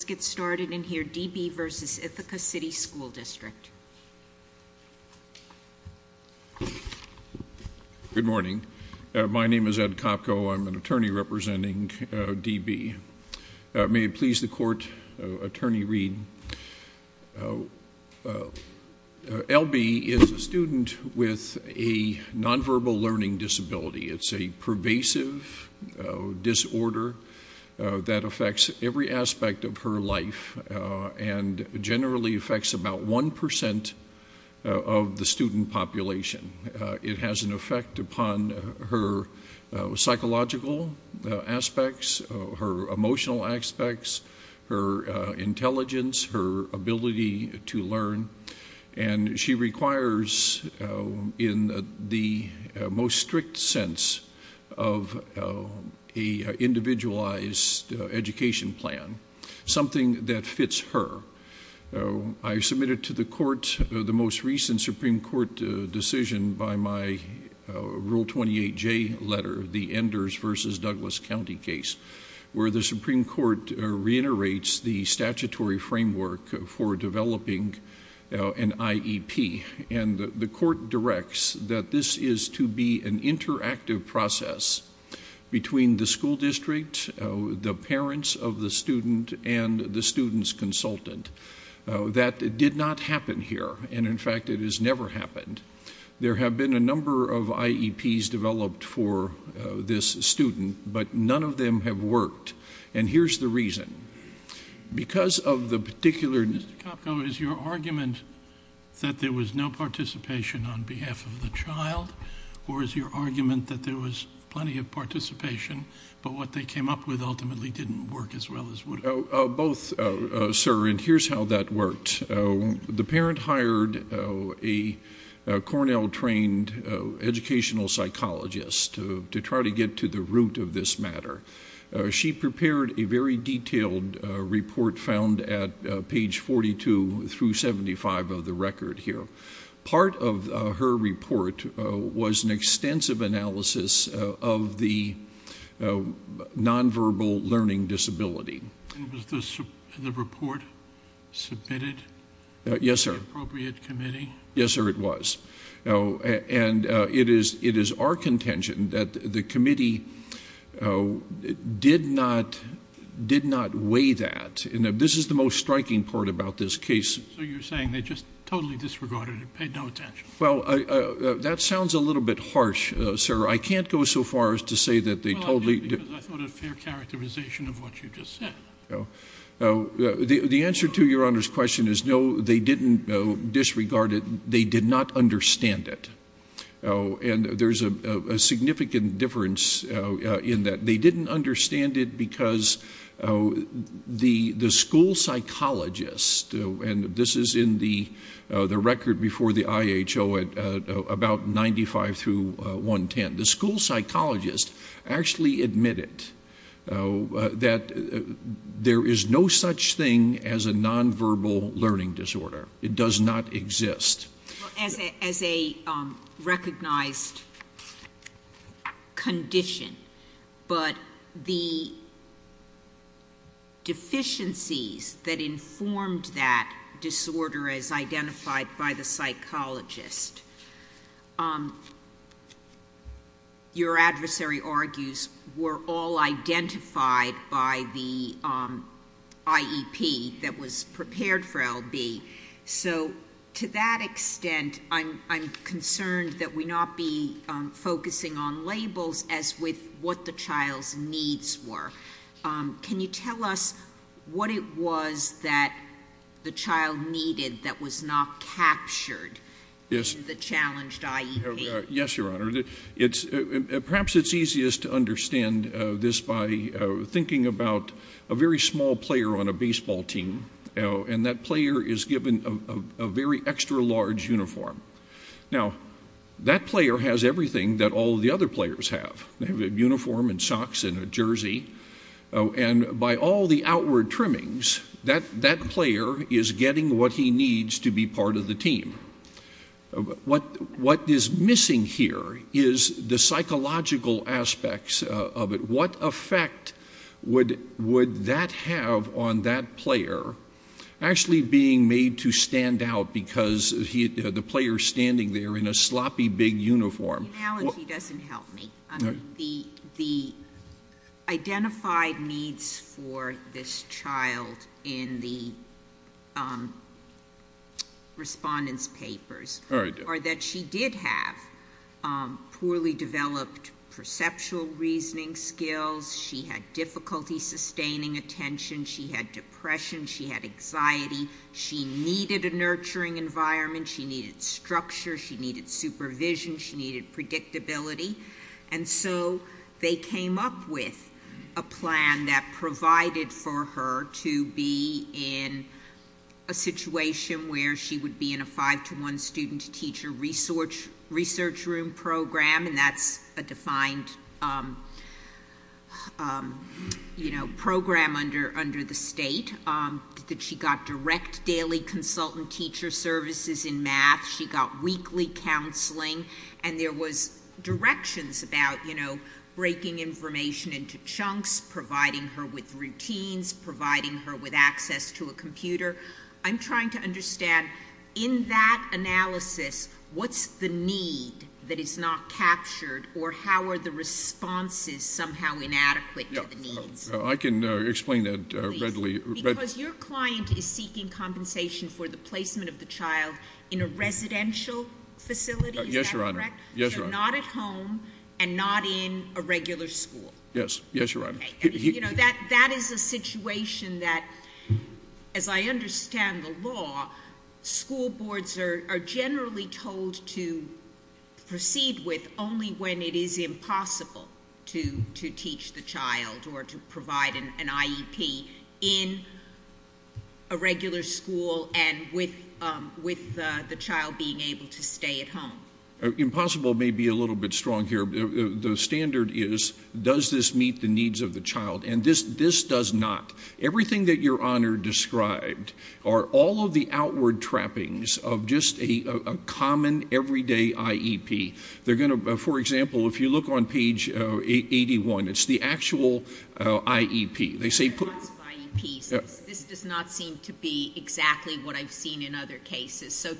D. B. v. Ithaca City School District. My name is Ed Kopko. I'm an attorney representing D. B. L. B. is a student with a nonverbal learning disability. It's a pervasive disorder that affects every aspect of her life and generally affects about 1% of the student population. It has an effect upon her psychological aspects, her emotional aspects, her intelligence, her ability to learn. She requires, in the most strict sense of an individualized education plan, something that fits her. I submitted to the court the most recent Supreme Court decision by my Rule 28J letter, the Enders v. Douglas County case, where the Supreme Court reiterates the statutory framework for developing an IEP. The court directs that this is to be an interactive process between the school district, the parents of the student, and the student's consultant. That did not happen here. In fact, it has never happened. There have been a number of IEPs developed for this student, but none of them have worked. Here's the reason. Because of the particular... Mr. Kopko, is your argument that there was no participation on behalf of the child, or is your argument that there was plenty of participation, but what they came up with ultimately didn't work as well as would have? Both, sir, and here's how that worked. The parent hired a Cornell-trained educational psychologist to try to get to the root of this matter. She prepared a very detailed report found at page 42 through 75 of the record here. Part of her report was an extensive analysis of the nonverbal learning disability. And was the report submitted to the appropriate committee? Yes, sir. Yes, sir, it was. And it is our contention that the committee did not weigh that. And this is the most striking part about this case. So you're saying they just totally disregarded it, paid no attention? Well, that sounds a little bit harsh, sir. I can't go so far as to say that they totally... Well, I did because I thought it a fair characterization of what you just said. The answer to Your Honor's question is no, they didn't disregard it. They did not understand it. And there's a significant difference in that. They didn't understand it because the school psychologist, and this is in the record before the IHO at about 95 through 110, the school psychologist actually admitted that there is no such thing as a nonverbal learning disorder. It does not exist. Well, as a recognized condition, but the deficiencies that informed that disorder as identified by the psychologist, your adversary argues were all identified by the IEP that was prepared for L.B. So to that extent, I'm concerned that we not be focusing on labels as with what the child's needs were. Can you tell us what it was that the child needed that was not captured in the challenged IEP? Yes, Your Honor. Perhaps it's easiest to understand this by thinking about a very small player on a baseball team, and that player is given a very extra-large uniform. Now, that player has everything that all the other players have. They have a uniform and socks and a jersey, and by all the outward trimmings, that player is getting what he needs to be part of the team. What is missing here is the psychological aspects of it. What effect would that have on that player actually being made to stand out because the player's standing there in a sloppy big uniform? The analogy doesn't help me. The identified needs for this child in the respondent's papers are that she did have poorly developed perceptual reasoning skills. She had difficulty sustaining attention. She had depression. She had anxiety. She needed a nurturing environment. She needed structure. She needed supervision. She needed predictability. And so they came up with a plan that provided for her to be in a situation where she would be in a 5-to-1 student-teacher research room program, and that's a defined program under the state. She got direct daily consultant teacher services in math. She got weekly counseling, and there was directions about breaking information into chunks, providing her with routines, providing her with access to a computer. I'm trying to understand, in that analysis, what's the need that is not captured, or how are the responses somehow inadequate to the needs? I can explain that readily. Because your client is seeking compensation for the placement of the child in a residential facility, is that correct? Yes, Your Honor. So not at home and not in a regular school. Yes. Yes, Your Honor. That is a situation that, as I understand the law, school boards are generally told to proceed with only when it is impossible to teach the child or to provide an IEP in a regular school and with the child being able to stay at home. Impossible may be a little bit strong here. The standard is, does this meet the needs of the child? And this does not. Everything that Your Honor described are all of the outward trappings of just a common, everyday IEP. For example, if you look on page 81, it's the actual IEP. This does not seem to be exactly what I've seen in other cases. So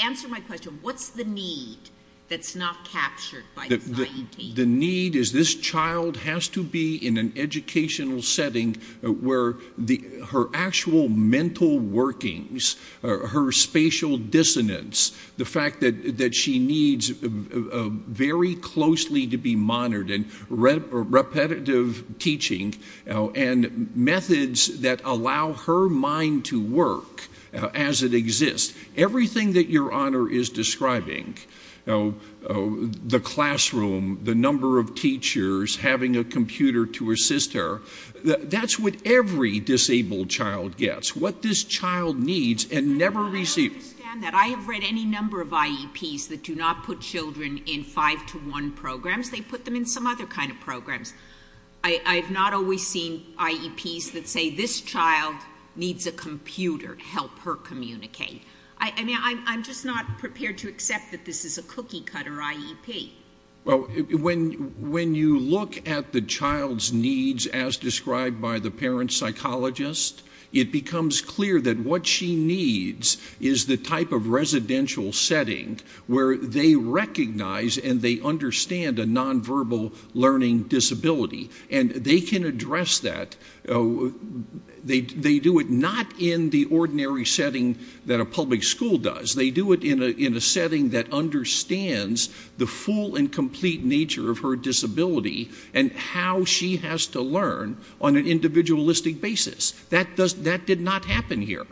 answer my question. What's the need that's not captured by this IEP? The need is this child has to be in an educational setting where her actual mental workings, her spatial dissonance, the fact that she needs very closely to be monitored and repetitive teaching and methods that allow her mind to work as it exists. Everything that Your Honor is describing, the classroom, the number of teachers, having a computer to assist her, that's what every disabled child gets, what this child needs and never receives. I understand that. I have read any number of IEPs that do not put children in 5-to-1 programs. They put them in some other kind of programs. I have not always seen IEPs that say, this child needs a computer to help her communicate. I'm just not prepared to accept that this is a cookie-cutter IEP. When you look at the child's needs as described by the parent psychologist, it becomes clear that what she needs is the type of residential setting where they recognize and they understand a nonverbal learning disability, and they can address that. They do it not in the ordinary setting that a public school does. They do it in a setting that understands the full and complete nature of her disability and how she has to learn on an individualistic basis. That did not happen here.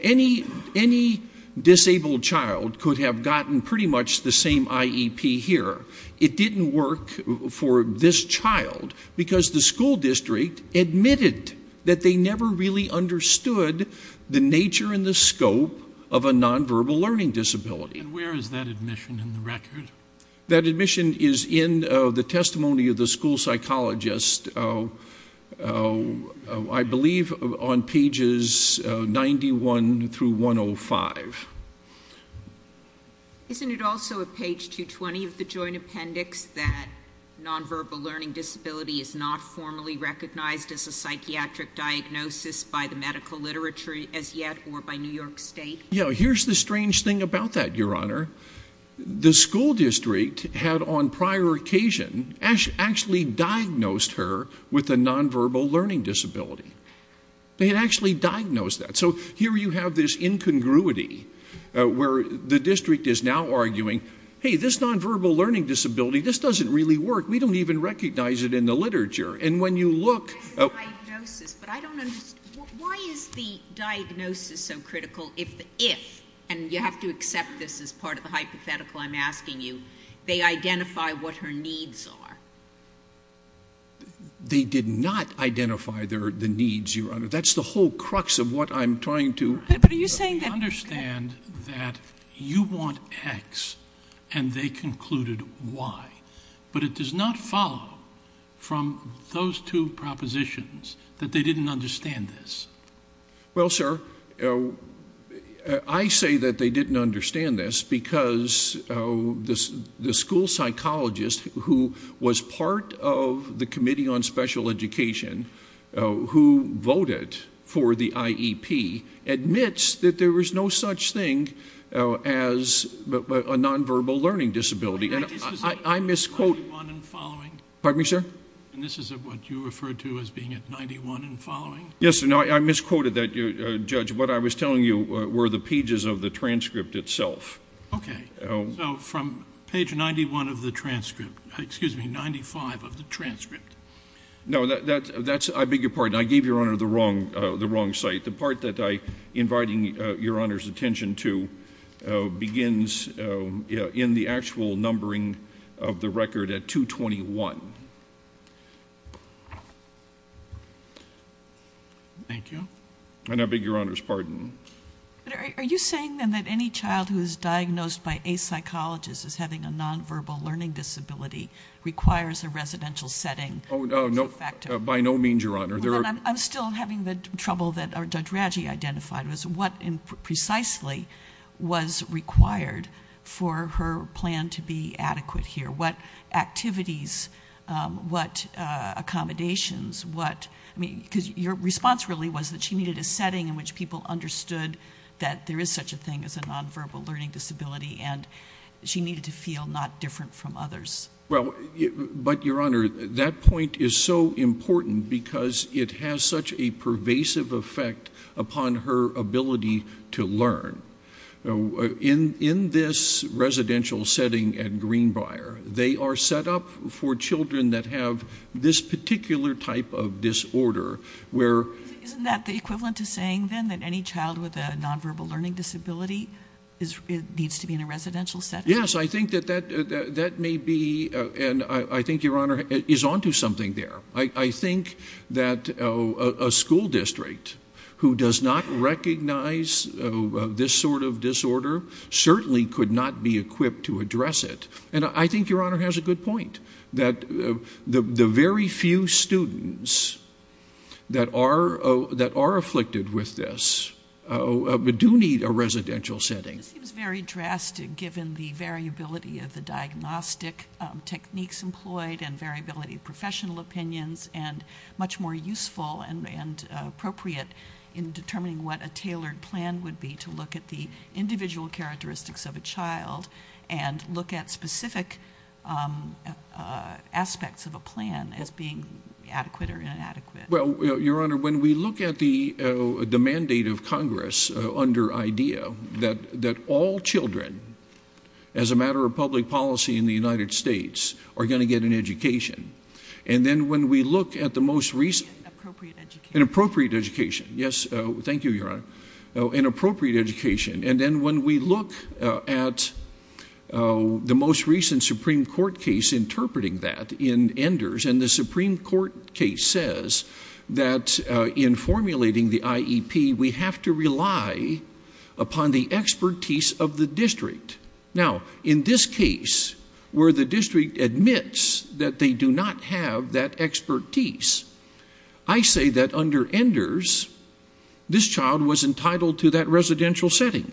Any disabled child could have gotten pretty much the same IEP here. It didn't work for this child because the school district admitted that they never really understood the nature and the scope of a nonverbal learning disability. And where is that admission in the record? That admission is in the testimony of the school psychologist, I believe, on pages 91 through 105. Isn't it also at page 220 of the joint appendix that nonverbal learning disability is not formally recognized as a psychiatric diagnosis by the medical literature as yet or by New York State? Yeah, here's the strange thing about that, Your Honor. The school district had, on prior occasion, actually diagnosed her with a nonverbal learning disability. They had actually diagnosed that. So here you have this incongruity where the district is now arguing, hey, this nonverbal learning disability, this doesn't really work. We don't even recognize it in the literature. And when you look... It's a diagnosis, but I don't understand. Why is the diagnosis so critical if the if, and you have to accept this as part of the hypothetical I'm asking you, they identify what her needs are? They did not identify the needs, Your Honor. That's the whole crux of what I'm trying to... But are you saying that... I understand that you want X and they concluded Y, but it does not follow from those two propositions that they didn't understand this. Well, sir, I say that they didn't understand this because the school psychologist who was part of the Committee on Special Education who voted for the IEP admits that there was no such thing as a nonverbal learning disability. I misquote... 91 and following? Pardon me, sir? And this is what you referred to as being at 91 and following? Yes, and I misquoted that, Judge. What I was telling you were the pages of the transcript itself. So from page 91 of the transcript... Excuse me, 95 of the transcript. No, that's... I beg your pardon. I gave Your Honor the wrong site. The part that I'm inviting Your Honor's attention to begins in the actual numbering of the record at 221. Thank you. And I beg Your Honor's pardon. Are you saying, then, that any child who is diagnosed by a psychologist as having a nonverbal learning disability requires a residential setting as a factor? Oh, no, by no means, Your Honor. I'm still having the trouble that Judge Radji identified, was what precisely was required for her plan to be adequate here? What activities, what accommodations, what... Because your response really was that she needed a setting in which people understood that there is such a thing as a nonverbal learning disability and she needed to feel not different from others. Well, but, Your Honor, that point is so important because it has such a pervasive effect upon her ability to learn. In this residential setting at Greenbrier, they are set up for children that have this particular type of disorder, where... Isn't that the equivalent to saying, then, that any child with a nonverbal learning disability needs to be in a residential setting? Yes, I think that that may be... And I think, Your Honor, it is on to something there. I think that a school district who does not recognize this sort of disorder certainly could not be equipped to address it. And I think, Your Honor, has a good point, that the very few students that are afflicted with this do need a residential setting. It seems very drastic, given the variability of the diagnostic techniques employed and variability of professional opinions, and much more useful and appropriate in determining what a tailored plan would be to look at the individual characteristics of a child and look at specific aspects of a plan as being adequate or inadequate. Well, Your Honor, when we look at the mandate of Congress under IDEA, that all children, as a matter of public policy in the United States, are going to get an education, and then when we look at the most recent... An appropriate education. An appropriate education, yes. Thank you, Your Honor. An appropriate education. And then when we look at the most recent Supreme Court case interpreting that in Enders, and the Supreme Court case says that in formulating the IEP, we have to rely upon the expertise of the district. Now, in this case, where the district admits that they do not have that expertise, I say that under Enders, this child was entitled to that residential setting.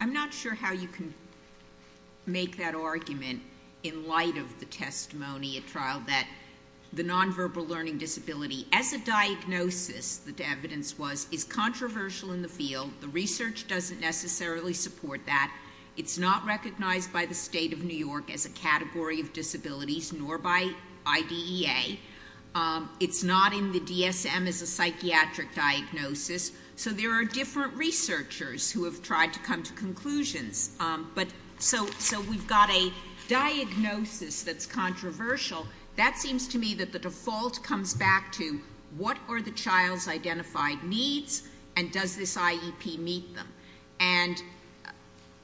I'm not sure how you can make that argument in light of the testimony at trial that the nonverbal learning disability, as a diagnosis, the evidence was, is controversial in the field. The research doesn't necessarily support that. It's not recognized by the state of New York as a category of disabilities, nor by IDEA. It's not in the DSM as a psychiatric diagnosis. So there are different researchers who have tried to come to conclusions. But so we've got a diagnosis that's controversial. That seems to me that the default comes back to what are the child's identified needs, and does this IEP meet them? And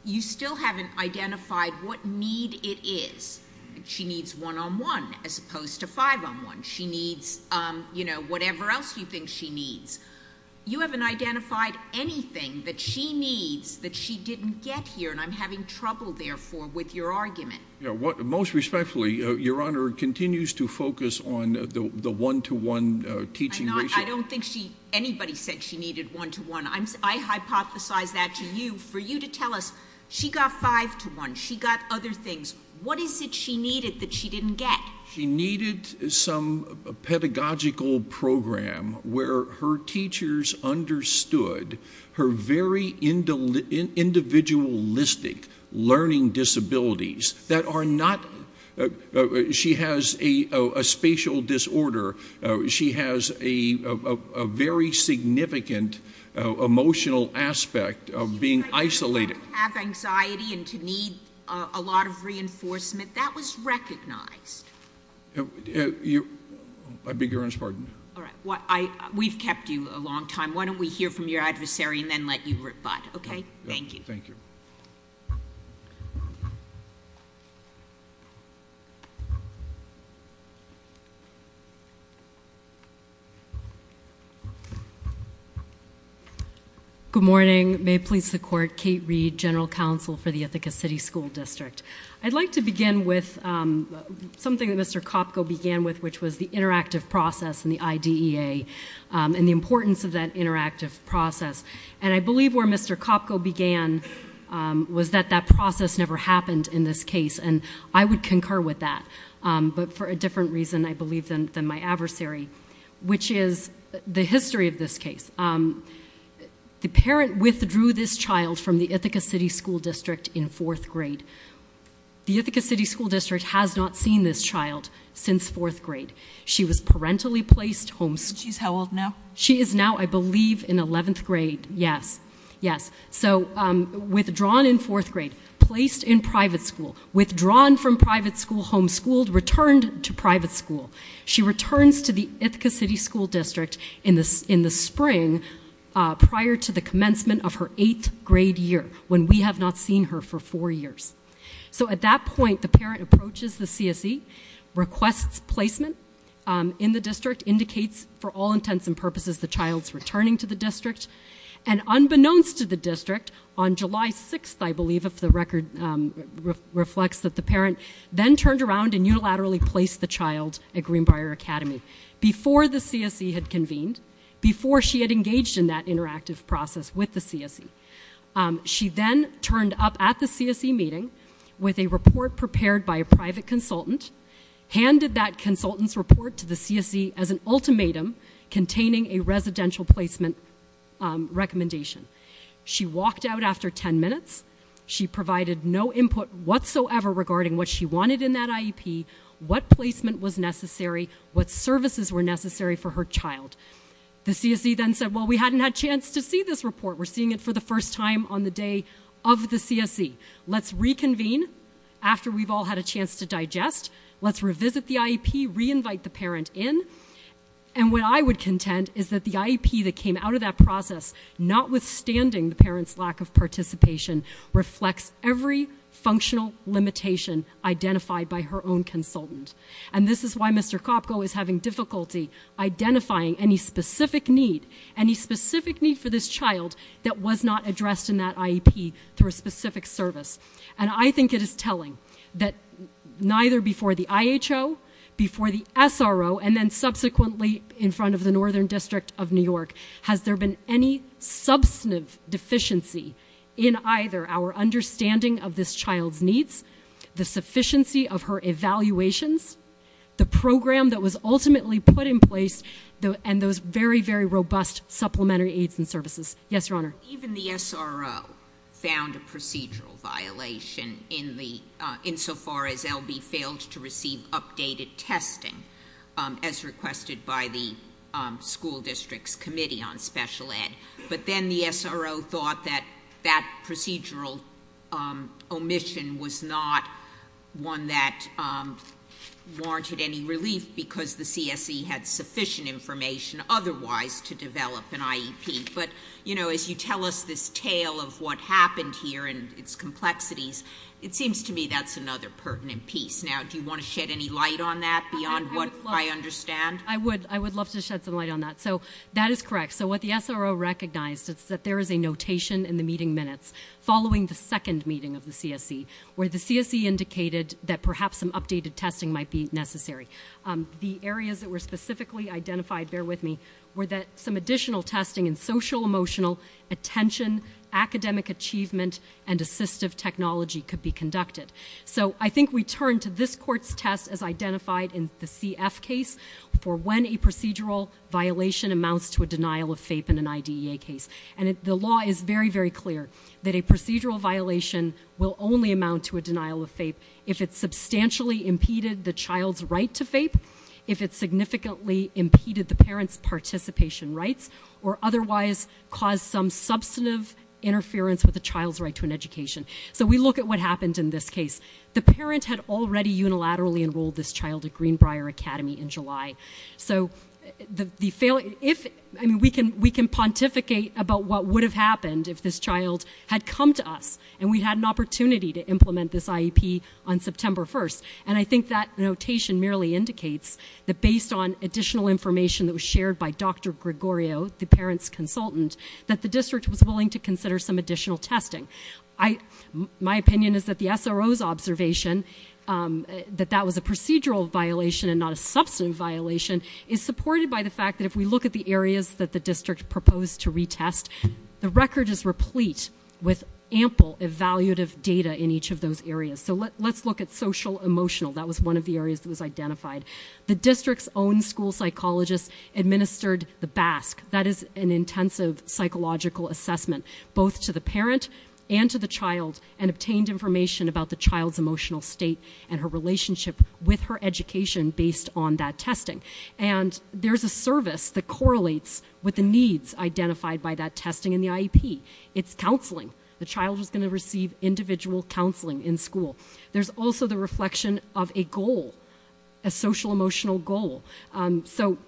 you still haven't identified what need it is. She needs one-on-one as opposed to five-on-one. She needs, you know, whatever else you think she needs. You haven't identified anything that she needs that she didn't get here, and I'm having trouble, therefore, with your argument. Most respectfully, Your Honor, continues to focus on the one-to-one teaching ratio. I don't think anybody said she needed one-to-one. I hypothesize that to you. For you to tell us she got five-to-one, she got other things, what is it she needed that she didn't get? She needed some pedagogical program where her teachers understood her very individualistic learning disabilities. That are not... She has a spatial disorder. She has a very significant emotional aspect of being isolated. To have anxiety and to need a lot of reinforcement, that was recognized. I beg Your Honor's pardon. We've kept you a long time. Why don't we hear from your adversary and then let you rebut, okay? Thank you. Thank you. Thank you. Good morning. May it please the Court, Kate Reed, General Counsel for the Ithaca City School District. I'd like to begin with something that Mr. Kopko began with, which was the interactive process and the IDEA and the importance of that interactive process. And I believe where Mr. Kopko began was that that process never happened in this case, and I would concur with that. But for a different reason, I believe, than my adversary, which is the history of this case. The parent withdrew this child from the Ithaca City School District in fourth grade. The Ithaca City School District has not seen this child since fourth grade. She was parentally placed homeschooled. She's how old now? She is now, I believe, in 11th grade. Yes, yes. So withdrawn in fourth grade, placed in private school, withdrawn from private school, homeschooled, returned to private school. She returns to the Ithaca City School District in the spring prior to the commencement of her eighth grade year, when we have not seen her for four years. So at that point, the parent approaches the CSE, requests placement in the district, indicates for all intents and purposes the child's returning to the district, and unbeknownst to the district, on July 6th, I believe, if the record reflects, that the parent then turned around and unilaterally placed the child at Greenbrier Academy before the CSE had convened, before she had engaged in that interactive process with the CSE. She then turned up at the CSE meeting with a report prepared by a private consultant, handed that consultant's report to the CSE as an ultimatum containing a residential placement recommendation. She walked out after 10 minutes. She provided no input whatsoever regarding what she wanted in that IEP, what placement was necessary, what services were necessary for her child. The CSE then said, well, we hadn't had a chance to see this report. We're seeing it for the first time on the day of the CSE. Let's reconvene after we've all had a chance to digest. Let's revisit the IEP, re-invite the parent in. And what I would contend is that the IEP that came out of that process, notwithstanding the parent's lack of participation, reflects every functional limitation identified by her own consultant. And this is why Mr. Kopko is having difficulty identifying any specific need, any specific need for this child that was not addressed in that IEP through a specific service. And I think it is telling that neither before the IHO, before the SRO, and then subsequently in front of the Northern District of New York, has there been any substantive deficiency in either our understanding of this child's needs, the sufficiency of her evaluations, the program that was ultimately put in place, and those very, very robust supplementary aids and services. Yes, Your Honor. Even the SRO found a procedural violation insofar as L.B. failed to receive updated testing, as requested by the school district's committee on special ed. But then the SRO thought that that procedural omission was not one that warranted any relief because the CSE had sufficient information otherwise to develop an IEP. But, you know, as you tell us this tale of what happened here and its complexities, it seems to me that's another pertinent piece. Now, do you want to shed any light on that beyond what I understand? I would love to shed some light on that. So that is correct. So what the SRO recognized is that there is a notation in the meeting minutes following the second meeting of the CSE where the CSE indicated that perhaps some updated testing might be necessary. The areas that were specifically identified, bear with me, were that some additional testing in social, emotional, attention, academic achievement, and assistive technology could be conducted. So I think we turn to this Court's test as identified in the CF case for when a procedural violation amounts to a denial of FAPE in an IDEA case. And the law is very, very clear that a procedural violation will only amount to a denial of FAPE if it substantially impeded the child's right to FAPE, if it significantly impeded the parent's participation rights, or otherwise caused some substantive interference with the child's right to an education. So we look at what happened in this case. The parent had already unilaterally enrolled this child at Greenbrier Academy in July. So we can pontificate about what would have happened if this child had come to us and we had an opportunity to implement this IEP on September 1st. And I think that notation merely indicates that based on additional information that was shared by Dr. Gregorio, the parent's consultant, that the district was willing to consider some additional testing. My opinion is that the SRO's observation that that was a procedural violation and not a substantive violation is supported by the fact that if we look at the areas that the district proposed to retest, the record is replete with ample evaluative data in each of those areas. That was one of the areas that was identified. The district's own school psychologist administered the BASC. That is an intensive psychological assessment both to the parent and to the child and obtained information about the child's emotional state and her relationship with her education based on that testing. And there's a service that correlates with the needs identified by that testing in the IEP. It's counseling. The child is going to receive individual counseling in school. There's also the reflection of a goal, a social-emotional goal. So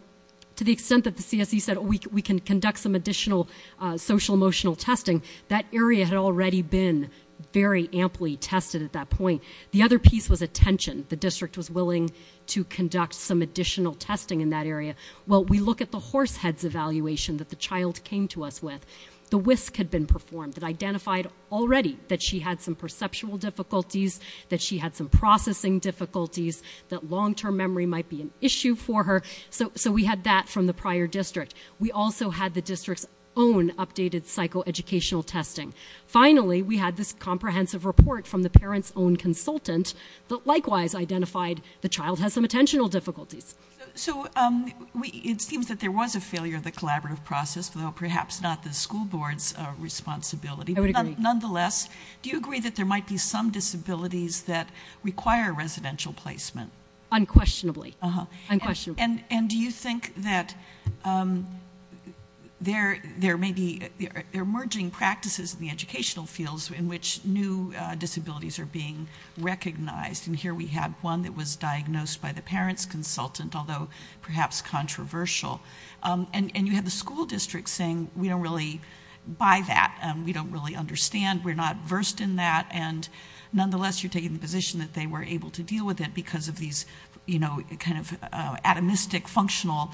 to the extent that the CSE said, we can conduct some additional social-emotional testing, that area had already been very amply tested at that point. The other piece was attention. The district was willing to conduct some additional testing in that area. Well, we look at the horsehead's evaluation that the child came to us with. The WISC had been performed. It identified already that she had some perceptual difficulties, that she had some processing difficulties, that long-term memory might be an issue for her. So we had that from the prior district. We also had the district's own updated psychoeducational testing. Finally, we had this comprehensive report from the parent's own consultant that likewise identified the child has some attentional difficulties. So it seems that there was a failure of the collaborative process, though perhaps not the school board's responsibility. I would agree. Nonetheless, do you agree that there might be some disabilities that require residential placement? Unquestionably. Unquestionably. And do you think that there may be emerging practices in the educational fields in which new disabilities are being recognized? And here we have one that was diagnosed by the parent's consultant, although perhaps controversial. And you had the school district saying, we don't really buy that, we don't really understand, we're not versed in that, and nonetheless you're taking the position that they were able to deal with it because of these kind of atomistic functional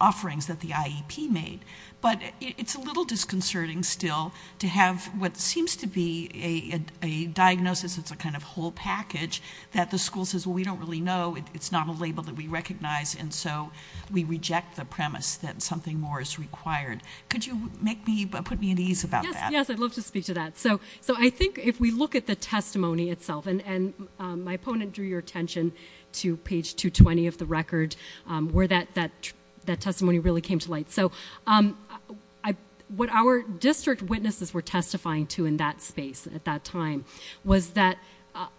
offerings that the IEP made. But it's a little disconcerting still to have what seems to be a diagnosis that's a kind of whole package that the school says, well, we don't really know, it's not a label that we recognize, and so we reject the premise that something more is required. Could you put me at ease about that? Yes, I'd love to speak to that. So I think if we look at the testimony itself, and my opponent drew your attention to page 220 of the record, where that testimony really came to light. So what our district witnesses were testifying to in that space at that time was that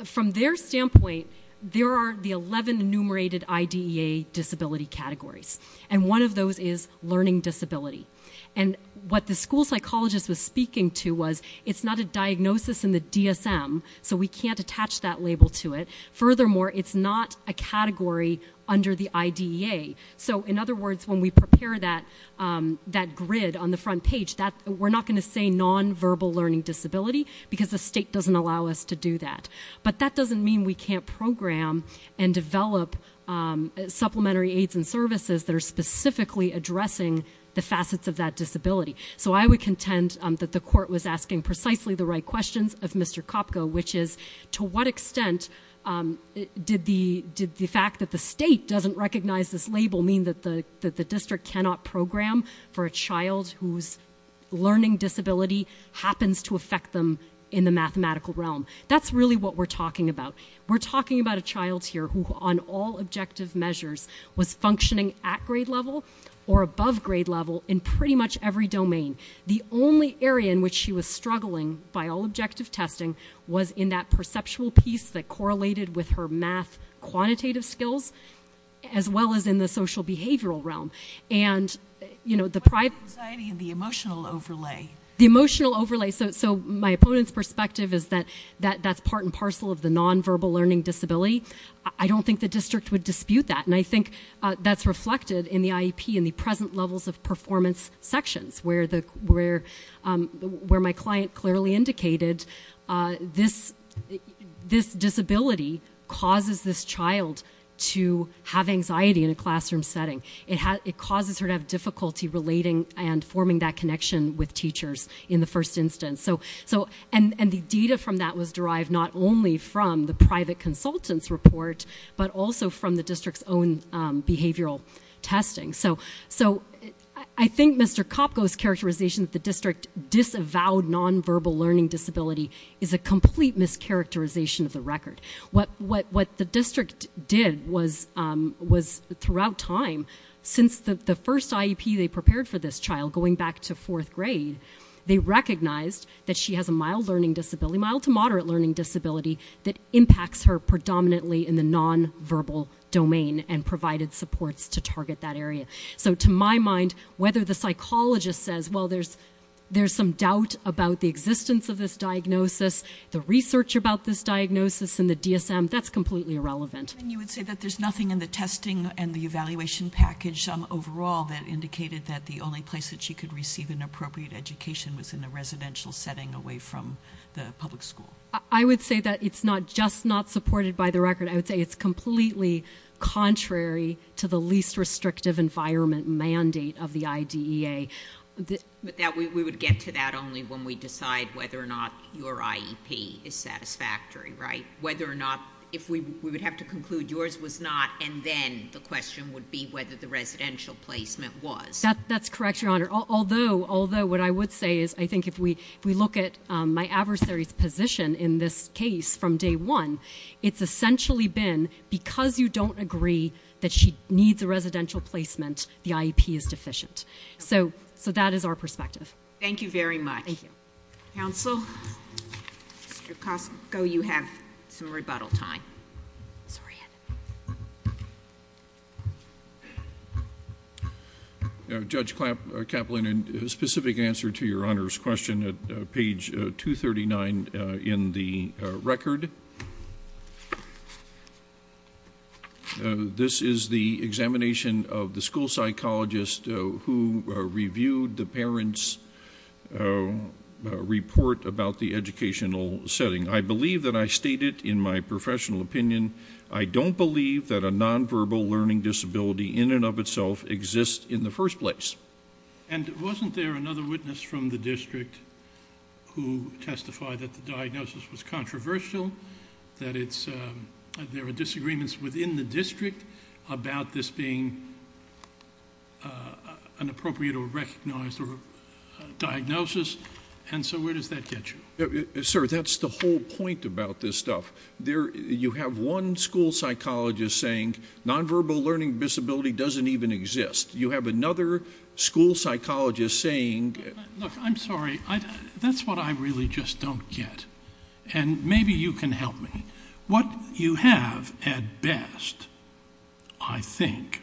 from their standpoint, there are the 11 enumerated IDEA disability categories, and one of those is learning disability. And what the school psychologist was speaking to was, it's not a diagnosis in the DSM, so we can't attach that label to it. Furthermore, it's not a category under the IDEA. So in other words, when we prepare that grid on the front page, we're not going to say non-verbal learning disability because the state doesn't allow us to do that. But that doesn't mean we can't program and develop supplementary aids and services that are specifically addressing the facets of that disability. So I would contend that the court was asking precisely the right questions of Mr. Kopko, which is to what extent did the fact that the state doesn't recognize this label mean that the district cannot program for a child whose learning disability happens to affect them in the mathematical realm? That's really what we're talking about. We're talking about a child here who, on all objective measures, was functioning at grade level or above grade level in pretty much every domain. The only area in which she was struggling, by all objective testing, was in that perceptual piece that correlated with her math quantitative skills as well as in the social behavioral realm. What about anxiety and the emotional overlay? The emotional overlay. So my opponent's perspective is that that's part and parcel of the non-verbal learning disability. I don't think the district would dispute that. And I think that's reflected in the IEP and the present levels of performance sections where my client clearly indicated this disability causes this child to have anxiety in a classroom setting. It causes her to have difficulty relating and forming that connection with teachers in the first instance. And the data from that was derived not only from the private consultant's report but also from the district's own behavioral testing. So I think Mr. Kopko's characterization that the district disavowed non-verbal learning disability is a complete mischaracterization of the record. What the district did was, throughout time, since the first IEP they prepared for this child, going back to fourth grade, they recognized that she has a mild learning disability, that impacts her predominantly in the non-verbal domain and provided supports to target that area. So to my mind, whether the psychologist says, well, there's some doubt about the existence of this diagnosis, the research about this diagnosis in the DSM, that's completely irrelevant. And you would say that there's nothing in the testing and the evaluation package overall that indicated that the only place that she could receive an appropriate education was in a residential setting away from the public school? I would say that it's not just not supported by the record. I would say it's completely contrary to the least restrictive environment mandate of the IDEA. But we would get to that only when we decide whether or not your IEP is satisfactory, right? Whether or not, if we would have to conclude yours was not, and then the question would be whether the residential placement was. That's correct, Your Honor. Although what I would say is I think if we look at my adversary's position in this case from day one, it's essentially been because you don't agree that she needs a residential placement, the IEP is deficient. So that is our perspective. Thank you very much. Thank you. Counsel, Mr. Kosko, you have some rebuttal time. Sorry. Go ahead. Judge Kaplan, a specific answer to Your Honor's question at page 239 in the record. This is the examination of the school psychologist who reviewed the parent's report about the educational setting. I believe that I stated in my professional opinion, I don't believe that a nonverbal learning disability in and of itself exists in the first place. And wasn't there another witness from the district who testified that the diagnosis was controversial, that there were disagreements within the district about this being an appropriate or recognized diagnosis? And so where does that get you? Sir, that's the whole point about this stuff. You have one school psychologist saying nonverbal learning disability doesn't even exist. You have another school psychologist saying – Look, I'm sorry. That's what I really just don't get. And maybe you can help me. What you have at best, I think,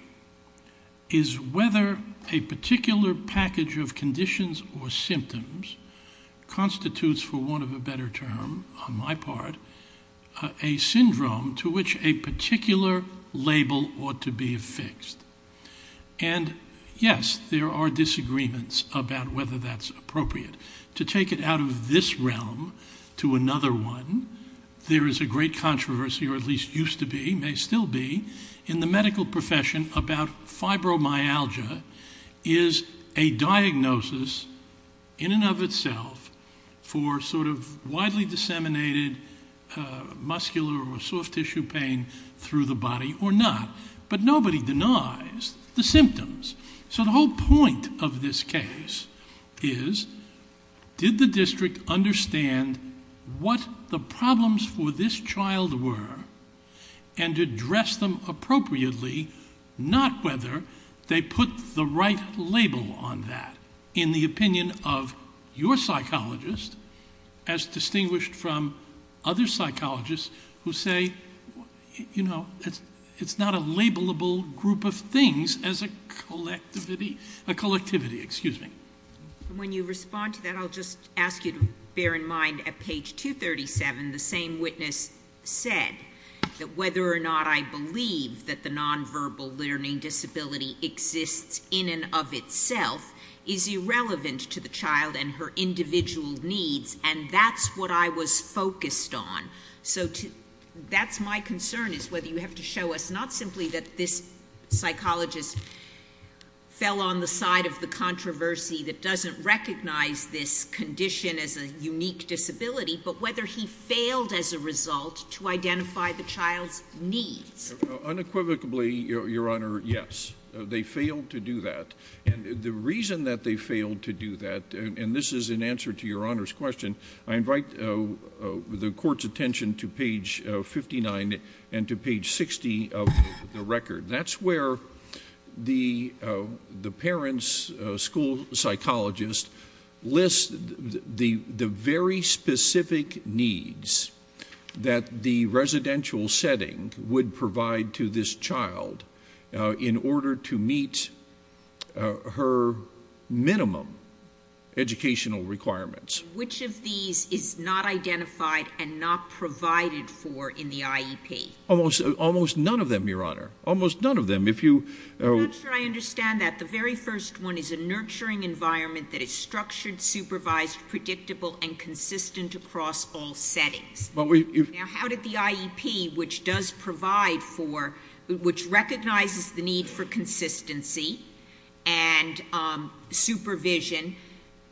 is whether a particular package of conditions or symptoms constitutes, for want of a better term on my part, a syndrome to which a particular label ought to be affixed. And, yes, there are disagreements about whether that's appropriate. To take it out of this realm to another one, there is a great controversy, or at least used to be, may still be, in the medical profession about fibromyalgia is a diagnosis in and of itself for sort of widely disseminated muscular or soft tissue pain through the body or not. But nobody denies the symptoms. So the whole point of this case is did the district understand what the problems for this child were and address them appropriately, not whether they put the right label on that, in the opinion of your psychologist as distinguished from other psychologists who say, you know, it's not a labelable group of things as a collectivity. Excuse me. When you respond to that, I'll just ask you to bear in mind at page 237 the same witness said that whether or not I believe that the nonverbal learning disability exists in and of itself is irrelevant to the child and her individual needs, and that's what I was focused on. So that's my concern, is whether you have to show us not simply that this psychologist fell on the side of the controversy that doesn't recognize this condition as a unique disability, but whether he failed as a result to identify the child's needs. Unequivocally, Your Honor, yes. They failed to do that. And the reason that they failed to do that, and this is in answer to Your Honor's question, I invite the Court's attention to page 59 and to page 60 of the record. That's where the parent's school psychologist lists the very specific needs that the residential setting would provide to this child in order to meet her minimum educational requirements. Which of these is not identified and not provided for in the IEP? Almost none of them, Your Honor. Almost none of them. I'm not sure I understand that. The very first one is a nurturing environment that is structured, supervised, predictable, and consistent across all settings. Now, how did the IEP, which does provide for, which recognizes the need for consistency and supervision,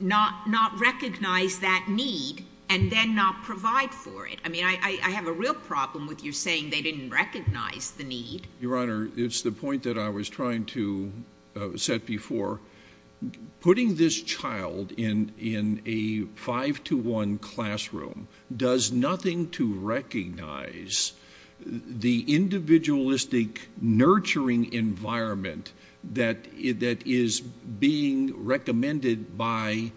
not recognize that need and then not provide for it? I mean, I have a real problem with you saying they didn't recognize the need. Your Honor, it's the point that I was trying to set before. Putting this child in a 5-to-1 classroom does nothing to recognize the individualistic nurturing environment that is being recommended by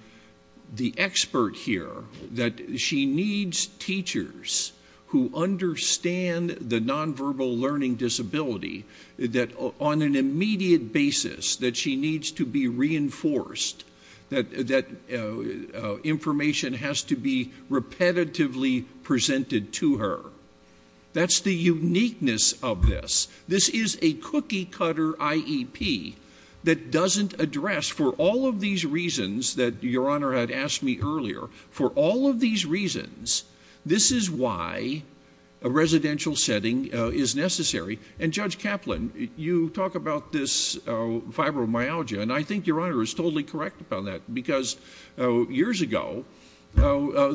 the expert here, that she needs teachers who understand the nonverbal learning disability, that on an immediate basis that she needs to be reinforced, that information has to be repetitively presented to her. That's the uniqueness of this. This is a cookie-cutter IEP that doesn't address, for all of these reasons that Your Honor had asked me earlier, for all of these reasons, this is why a residential setting is necessary. And Judge Kaplan, you talk about this fibromyalgia, and I think Your Honor is totally correct about that because years ago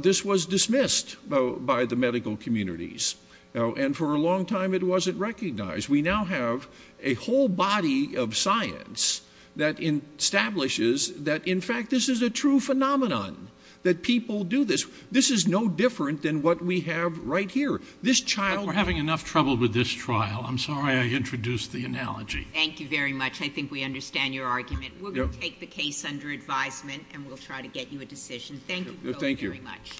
this was dismissed by the medical communities, and for a long time it wasn't recognized. We now have a whole body of science that establishes that, in fact, this is a true phenomenon, that people do this. This is no different than what we have right here. We're having enough trouble with this trial. I'm sorry I introduced the analogy. Thank you very much. I think we understand your argument. We'll take the case under advisement and we'll try to get you a decision. Thank you both very much.